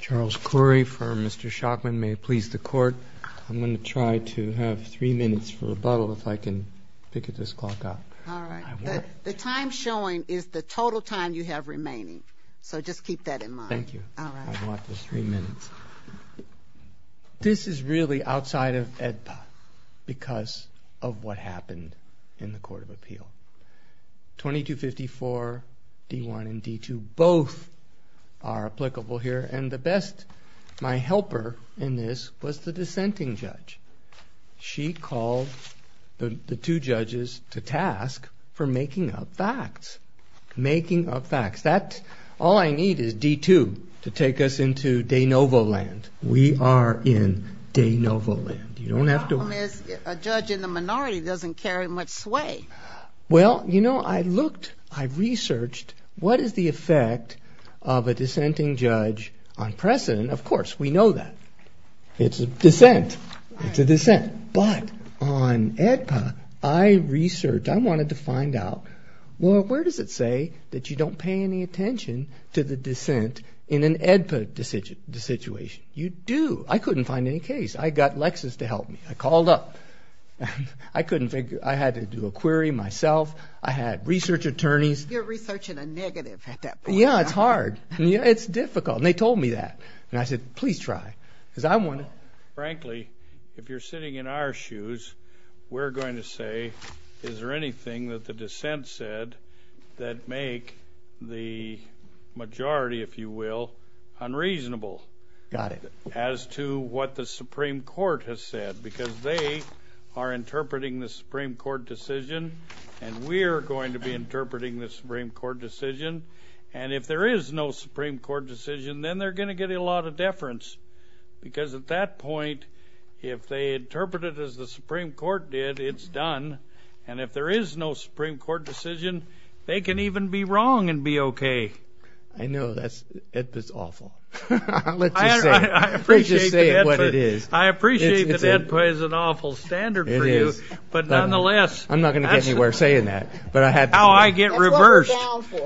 Charles Khoury for Mr. Shockman. May it please the Court, I'm going to try to have three minutes for rebuttal if I can pick at this clock up. All right. The time showing is the total time you have remaining, so just keep that in mind. Thank you. I want the three minutes. This is really outside of AEDPA because of what happened in the Court of Appeal. 2254 D1 and D2 both are applicable here and the best, my helper in this was the dissenting judge. She called the two judges to task for making up facts. Making up facts. All I need is D2 to take us into de novo land. We are in de novo land. The problem is a judge in the minority doesn't carry much sway. Well, you know, I looked, I researched what is the effect of a dissenting judge on precedent. Of course, we know that. It's a dissent. It's a dissent. But on AEDPA, I researched, I wanted to find out, well, where does it say that you don't pay any attention to the dissent in an AEDPA situation? You do. I couldn't find any case. I got Lexis to help me. I called up. I couldn't figure, I had to do a query myself. I had research attorneys. You're researching a negative at that point. Yeah, it's hard. It's difficult. And they told me that. And I said, please try. Frankly, if you're sitting in our shoes, we're going to say, is there anything that the dissent said that make the majority, if you will, unreasonable? Got it. As to what the Supreme Court has said, because they are interpreting the Supreme Court decision, and we're going to be interpreting the Supreme Court decision. And if there is no Supreme Court decision, then they're going to get a lot of deference. Because at that point, if they interpret it as the Supreme Court did, it's done. And if there is no Supreme Court decision, they can even be wrong and be okay. I know. AEDPA's awful. I appreciate that AEDPA is an awful standard for you. It is. But nonetheless. I'm not going to get anywhere saying that. How I get reversed.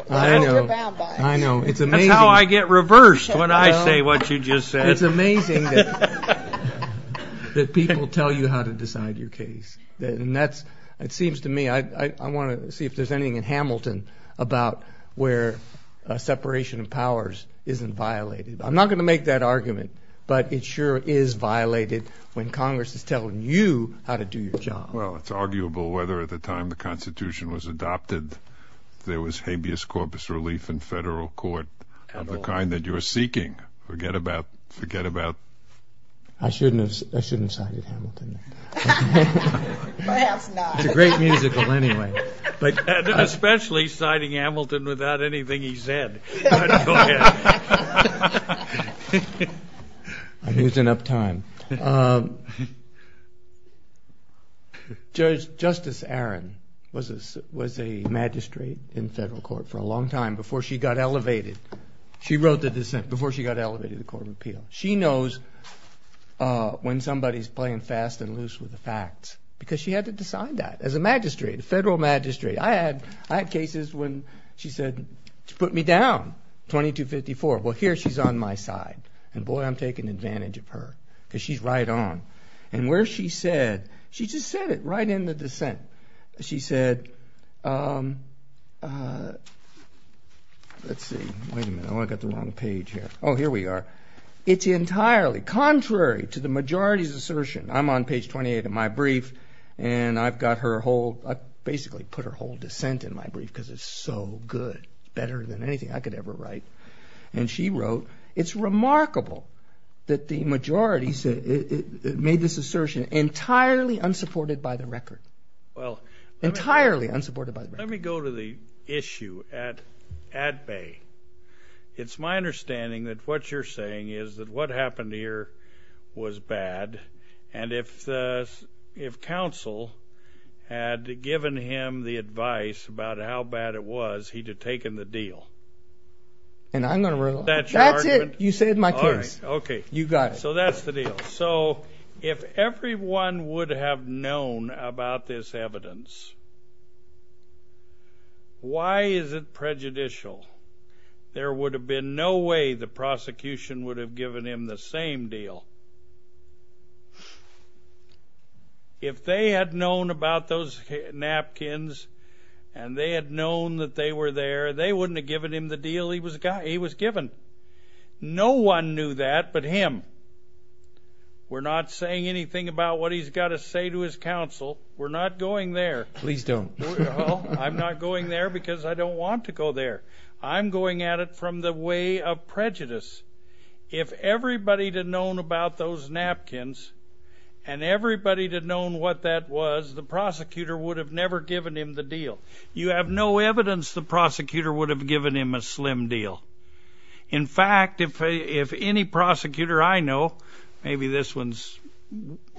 I know. I know. It's amazing. That's how I get reversed when I say what you just said. It's amazing that people tell you how to decide your case. And that's, it seems to me, I want to see if there's anything in Hamilton about where separation of powers isn't violated. I'm not going to make that argument. But it sure is violated when Congress is telling you how to do your job. Well, it's arguable whether at the time the Constitution was adopted there was habeas corpus relief in federal court of the kind that you're seeking. Forget about, forget about. I shouldn't have cited Hamilton. Perhaps not. It's a great musical anyway. Especially citing Hamilton without anything he said. I'm losing up time. Justice Aron was a magistrate in federal court for a long time before she got elevated. She wrote the dissent before she got elevated to court of appeal. She knows when somebody is playing fast and loose with the facts. Because she had to decide that as a magistrate, a federal magistrate. I had cases when she said, put me down, 2254. Well, here she's on my side. And boy, I'm taking advantage of her. Because she's right on. And where she said, she just said it right in the dissent. She said, let's see, wait a minute, I've got the wrong page here. Oh, here we are. It's entirely contrary to the majority's assertion. I'm on page 28 of my brief. And I've got her whole, I basically put her whole dissent in my brief because it's so good. Better than anything I could ever write. And she wrote, it's remarkable that the majority made this assertion entirely unsupported by the record. Entirely unsupported by the record. Let me go to the issue at bay. It's my understanding that what you're saying is that what happened here was bad. And if counsel had given him the advice about how bad it was, he'd have taken the deal. And I'm going to rule out that argument. That's it. You said my case. All right. Okay. You got it. So that's the deal. So if everyone would have known about this evidence, why is it prejudicial? There would have been no way the prosecution would have given him the same deal. If they had known about those napkins and they had known that they were there, they wouldn't have given him the deal he was given. No one knew that but him. We're not saying anything about what he's got to say to his counsel. We're not going there. Please don't. Well, I'm not going there because I don't want to go there. I'm going at it from the way of prejudice. If everybody had known about those napkins and everybody had known what that was, the prosecutor would have never given him the deal. You have no evidence the prosecutor would have given him a slim deal. In fact, if any prosecutor I know, maybe this one's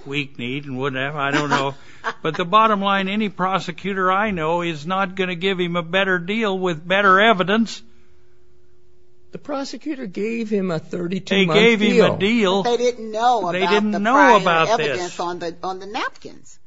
weak-kneed and wouldn't have, I don't know, but the bottom line, any prosecutor I know is not going to give him a better deal with better evidence. The prosecutor gave him a 32-month deal. They gave him a deal. They didn't know about the prior evidence on the napkins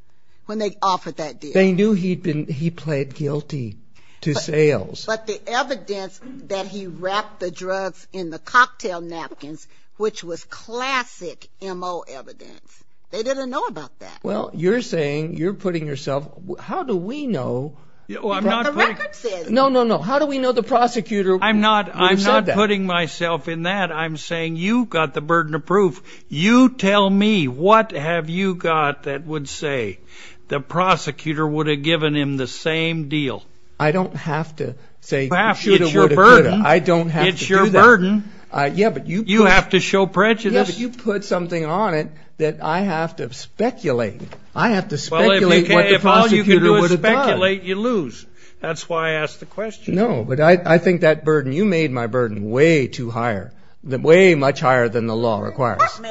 when they offered that deal. They knew he pled guilty to sales. But the evidence that he wrapped the drugs in the cocktail napkins, which was classic M.O. evidence, they didn't know about that. Well, you're saying, you're putting yourself, how do we know what the record says? No, no, no. How do we know the prosecutor would have said that? I'm not putting myself in that. I'm saying you've got the burden of proof. You tell me what have you got that would say the prosecutor would have given him the same deal. I don't have to say shoulda, woulda, coulda. It's your burden. I don't have to do that. It's your burden. You have to show prejudice. Yeah, but you put something on it that I have to speculate. I have to speculate what the prosecutor would have done. Well, if all you can do is speculate, you lose. That's why I asked the question. No, but I think that burden, you made my burden way too higher, way much higher than the law requires. We did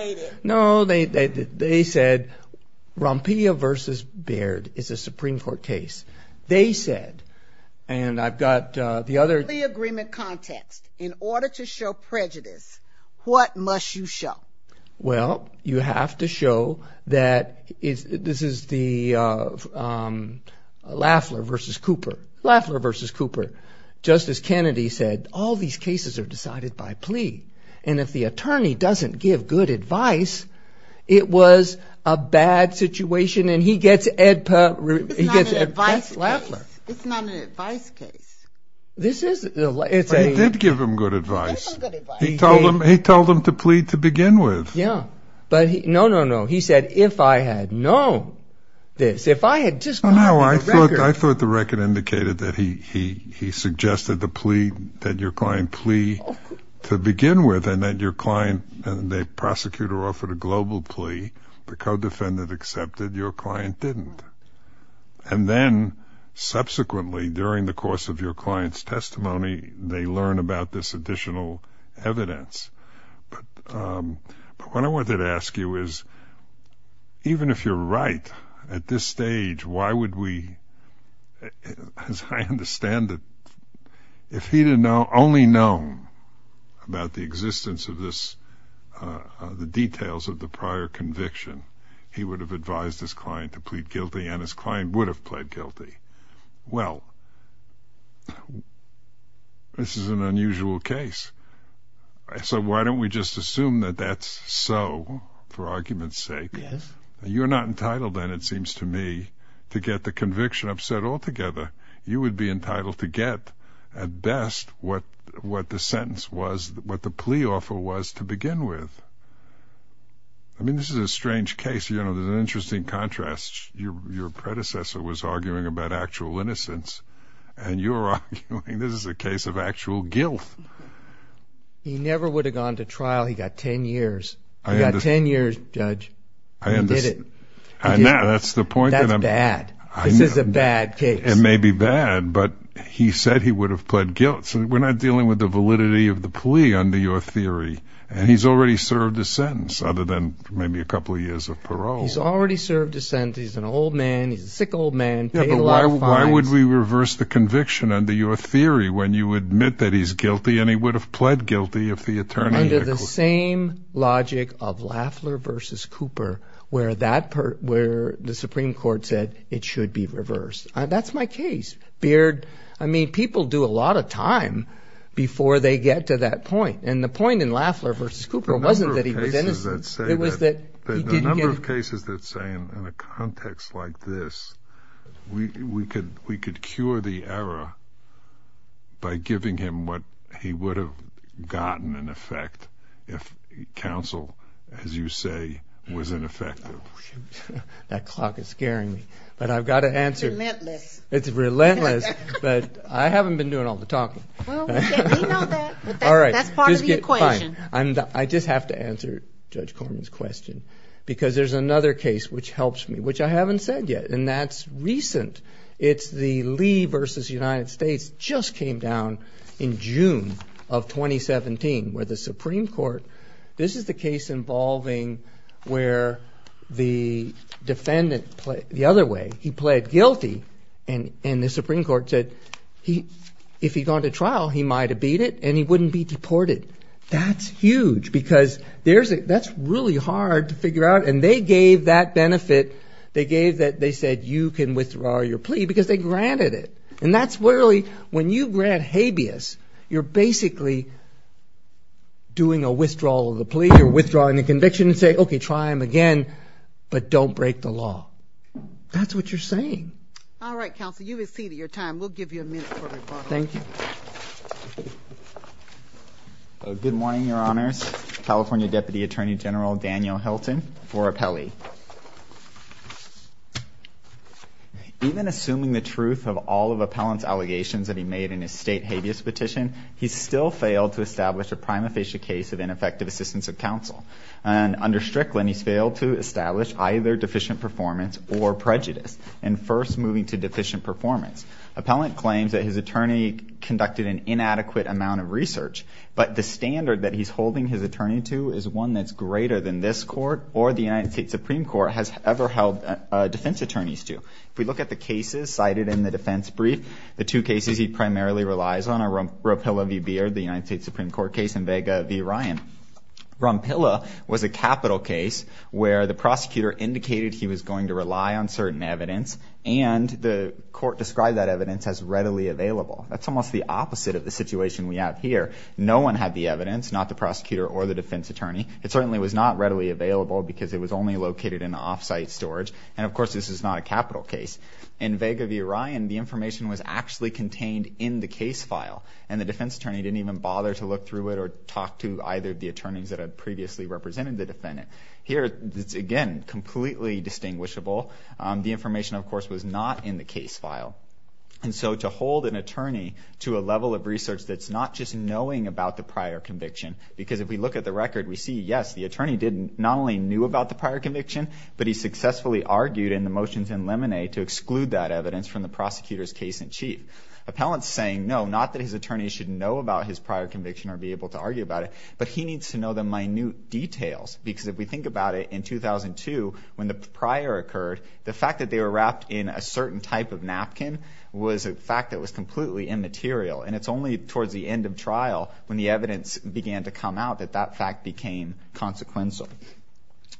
not make it. No, they said Rompilla v. Baird is a Supreme Court case. They said, and I've got the other. In the agreement context, in order to show prejudice, what must you show? Well, you have to show that this is the Lafler v. Cooper. Lafler v. Cooper. Justice Kennedy said all these cases are decided by plea, and if the attorney doesn't give good advice, it was a bad situation, and he gets Ed Perlman. It's not an advice case. He did give him good advice. He did give him good advice. He told him to plea to begin with. Yeah, but no, no, no. He said, if I had known this, if I had just gotten the record. No, I thought the record indicated that he suggested the plea, that your client plea to begin with, and that your client, the prosecutor, offered a global plea. The co-defendant accepted. Your client didn't. And then, subsequently, during the course of your client's testimony, they learn about this additional evidence. But what I wanted to ask you is, even if you're right at this stage, why would we, as I understand it, if he had only known about the existence of this, the details of the prior conviction, he would have advised his client to plead guilty, and his client would have pled guilty? Well, this is an unusual case. So why don't we just assume that that's so, for argument's sake? Yes. You're not entitled then, it seems to me, to get the conviction upset altogether. You would be entitled to get, at best, what the sentence was, what the plea offer was to begin with. I mean, this is a strange case. You know, there's an interesting contrast. Your predecessor was arguing about actual innocence, and you're arguing this is a case of actual guilt. He never would have gone to trial. He got 10 years. He got 10 years, Judge. He did it. That's the point. That's bad. This is a bad case. It may be bad, but he said he would have pled guilt. So we're not dealing with the validity of the plea, under your theory. And he's already served a sentence, other than maybe a couple of years of parole. He's already served a sentence. He's an old man. He's a sick old man. Paid a lot of fines. Yeah, but why would we reverse the conviction, under your theory, when you admit that he's guilty, and he would have pled guilty if the attorney had questioned him? Under the same logic of Lafler v. Cooper, where the Supreme Court said it should be reversed. That's my case. Beard, I mean, people do a lot of time before they get to that point, and the point in Lafler v. Cooper wasn't that he was innocent. The number of cases that say in a context like this, we could cure the error by giving him what he would have gotten in effect if counsel, as you say, was ineffective. That clock is scaring me, but I've got to answer. It's relentless. It's relentless, but I haven't been doing all the talking. Well, we know that, but that's part of the equation. All right, fine. I just have to answer Judge Corman's question because there's another case which helps me, which I haven't said yet, and that's recent. It's the Lee v. United States. It just came down in June of 2017, where the Supreme Court, this is the case involving where the defendant, the other way, he pled guilty, and the Supreme Court said if he'd gone to trial he might have beat it and he wouldn't be deported. That's huge because that's really hard to figure out, and they gave that benefit. They said you can withdraw your plea because they granted it, and that's really, when you grant habeas, you're basically doing a withdrawal of the plea or withdrawing the conviction and say, okay, try him again, but don't break the law. That's what you're saying. All right, counsel, you've exceeded your time. We'll give you a minute for rebuttal. Thank you. Good morning, Your Honors. California Deputy Attorney General Daniel Helton for Appellee. Even assuming the truth of all of Appellant's allegations that he made in his state habeas petition, he's still failed to establish a prima facie case of ineffective assistance of counsel. Under Strickland, he's failed to establish either deficient performance or prejudice, and first moving to deficient performance. Appellant claims that his attorney conducted an inadequate amount of research, but the standard that he's holding his attorney to is one that's greater than this court or the United States Supreme Court has ever held defense attorneys to. If we look at the cases cited in the defense brief, the two cases he primarily relies on are Rompilla v. Beard, the United States Supreme Court case, and Vega v. Ryan. Rompilla was a capital case where the prosecutor indicated he was going to rely on certain evidence, and the court described that evidence as readily available. That's almost the opposite of the situation we have here. No one had the evidence, not the prosecutor or the defense attorney. It certainly was not readily available because it was only located in off-site storage, and of course this is not a capital case. In Vega v. Ryan, the information was actually contained in the case file, and the defense attorney didn't even bother to look through it or talk to either of the attorneys that had previously represented the defendant. Here, it's again completely distinguishable. The information, of course, was not in the case file. And so to hold an attorney to a level of research that's not just knowing about the prior conviction, because if we look at the record, we see, yes, the attorney not only knew about the prior conviction, but he successfully argued in the motions in Lemonade to exclude that evidence from the prosecutor's case-in-chief. Appellant's saying, no, not that his attorney should know about his prior conviction or be able to argue about it, but he needs to know the minute details because if we think about it, in 2002, when the prior occurred, the fact that they were wrapped in a certain type of napkin was a fact that was completely immaterial, and it's only towards the end of trial when the evidence began to come out that that fact became consequential.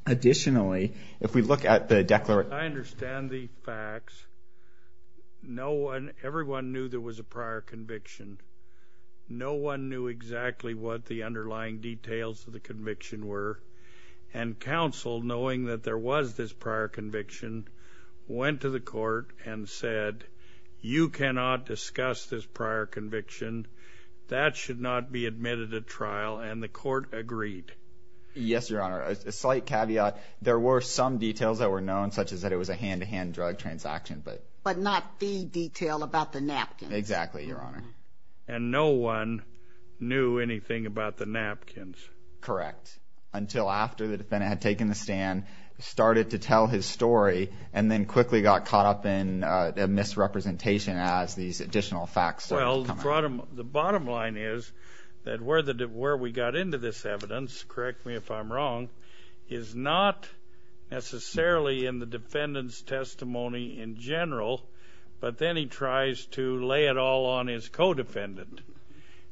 Additionally, if we look at the declaration... I understand the facts. No one, everyone knew there was a prior conviction. No one knew exactly what the underlying details of the conviction were, and counsel, knowing that there was this prior conviction, went to the court and said, you cannot discuss this prior conviction. That should not be admitted at trial, and the court agreed. Yes, Your Honor. A slight caveat, there were some details that were known, such as that it was a hand-to-hand drug transaction, but... But not the detail about the napkins. Exactly, Your Honor. And no one knew anything about the napkins. Correct. ...until after the defendant had taken the stand, started to tell his story, and then quickly got caught up in a misrepresentation as these additional facts started to come out. Well, the bottom line is that where we got into this evidence, correct me if I'm wrong, is not necessarily in the defendant's testimony in general, but then he tries to lay it all on his co-defendant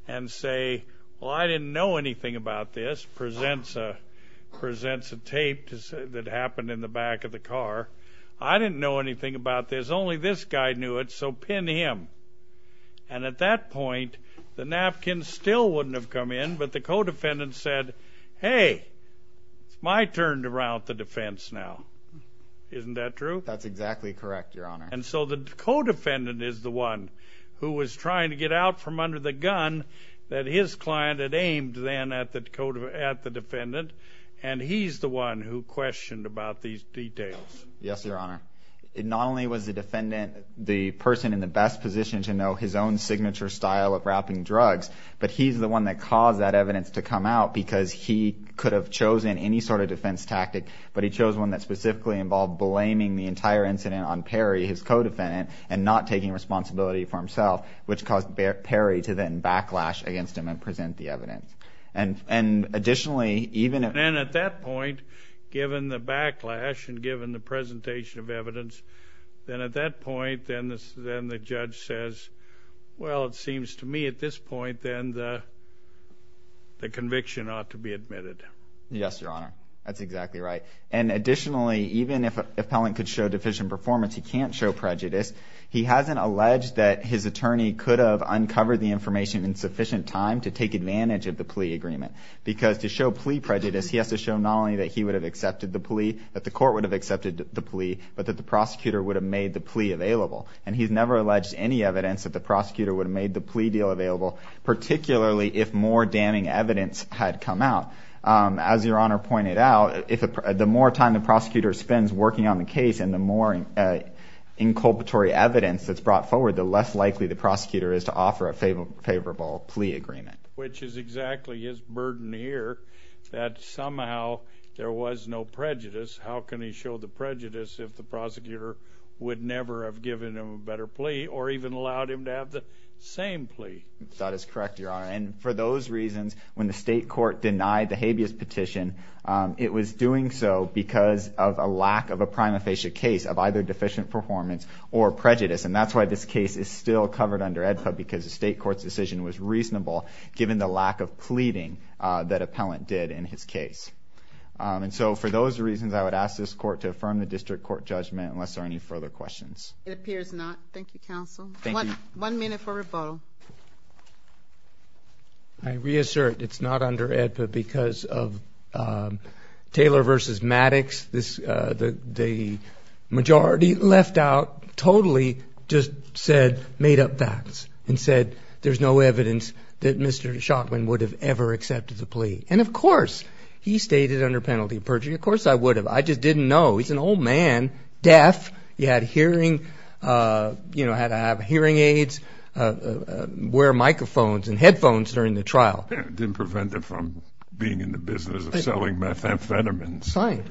and say, well, I didn't know anything about this, presents a tape that happened in the back of the car. I didn't know anything about this. Only this guy knew it, so pin him. And at that point, the napkins still wouldn't have come in, but the co-defendant said, hey, it's my turn to route the defense now. Isn't that true? That's exactly correct, Your Honor. And so the co-defendant is the one who was trying to get out from under the gun that his client had aimed then at the defendant, and he's the one who questioned about these details. Yes, Your Honor. Not only was the defendant the person in the best position to know his own signature style of wrapping drugs, but he's the one that caused that evidence to come out because he could have chosen any sort of defense tactic, but he chose one that specifically involved blaming the entire incident on Perry, his co-defendant, and not taking responsibility for himself, which caused Perry to then backlash against him and present the evidence. And additionally, even if... And at that point, given the backlash and given the presentation of evidence, then at that point, then the judge says, well, it seems to me at this point then the conviction ought to be admitted. Yes, Your Honor. That's exactly right. And additionally, even if Pellant could show deficient performance, he can't show prejudice. He hasn't alleged that his attorney could have uncovered the information in sufficient time to take advantage of the plea agreement because to show plea prejudice, he has to show not only that he would have accepted the plea, that the court would have accepted the plea, but that the prosecutor would have made the plea available. And he's never alleged any evidence that the prosecutor would have made the plea deal available, particularly if more damning evidence had come out. As Your Honor pointed out, the more time the prosecutor spends working on the case and the more inculpatory evidence that's brought forward, the less likely the prosecutor is to offer a favorable plea agreement. Which is exactly his burden here, that somehow there was no prejudice. How can he show the prejudice if the prosecutor would never have given him a better plea or even allowed him to have the same plea? That is correct, Your Honor. And for those reasons, when the state court denied the habeas petition, it was doing so because of a lack of a prima facie case of either deficient performance or prejudice. And that's why this case is still covered under AEDPA, because the state court's decision was reasonable given the lack of pleading that appellant did in his case. And so for those reasons, I would ask this court to affirm the district court judgment unless there are any further questions. It appears not. Thank you, counsel. One minute for rebuttal. I reassert it's not under AEDPA because of Taylor v. Maddox. The majority left out totally just said made-up facts and said there's no evidence that Mr. Shockman would have ever accepted the plea. And, of course, he stayed under penalty of perjury. Of course I would have. I just didn't know. He's an old man, deaf. He had hearing aids. Wear microphones and headphones during the trial. Didn't prevent him from being in the business of selling methamphetamines. Fine.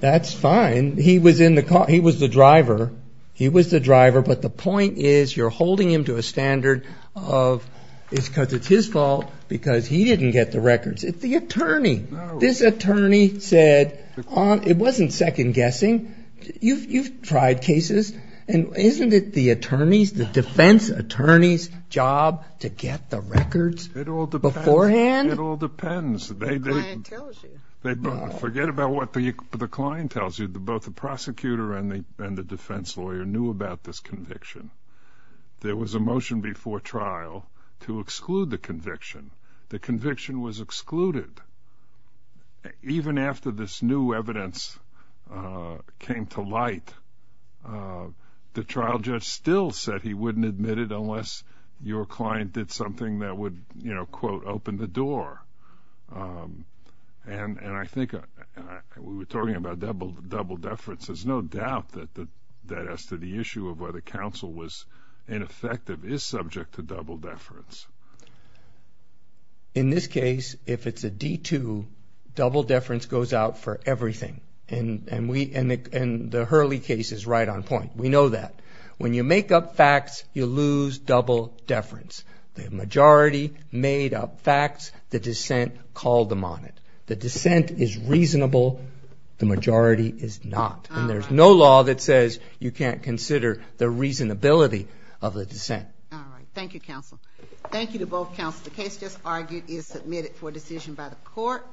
That's fine. He was in the car. He was the driver. He was the driver, but the point is you're holding him to a standard of it's because it's his fault because he didn't get the records. It's the attorney. This attorney said it wasn't second-guessing. You've tried cases. And isn't it the defense attorney's job to get the records beforehand? It all depends. The client tells you. Forget about what the client tells you. Both the prosecutor and the defense lawyer knew about this conviction. There was a motion before trial to exclude the conviction. The conviction was excluded. Even after this new evidence came to light, the trial judge still said he wouldn't admit it unless your client did something that would, you know, quote, open the door. And I think we were talking about double deference. There's no doubt that as to the issue of whether counsel was ineffective is subject to double deference. In this case, if it's a D-2, double deference goes out for everything. And the Hurley case is right on point. We know that. When you make up facts, you lose double deference. The majority made up facts. The dissent called them on it. The dissent is reasonable. The majority is not. And there's no law that says you can't consider the reasonability of the dissent. All right. Thank you, counsel. Thank you to both counsels. The case just argued is submitted for decision by the court.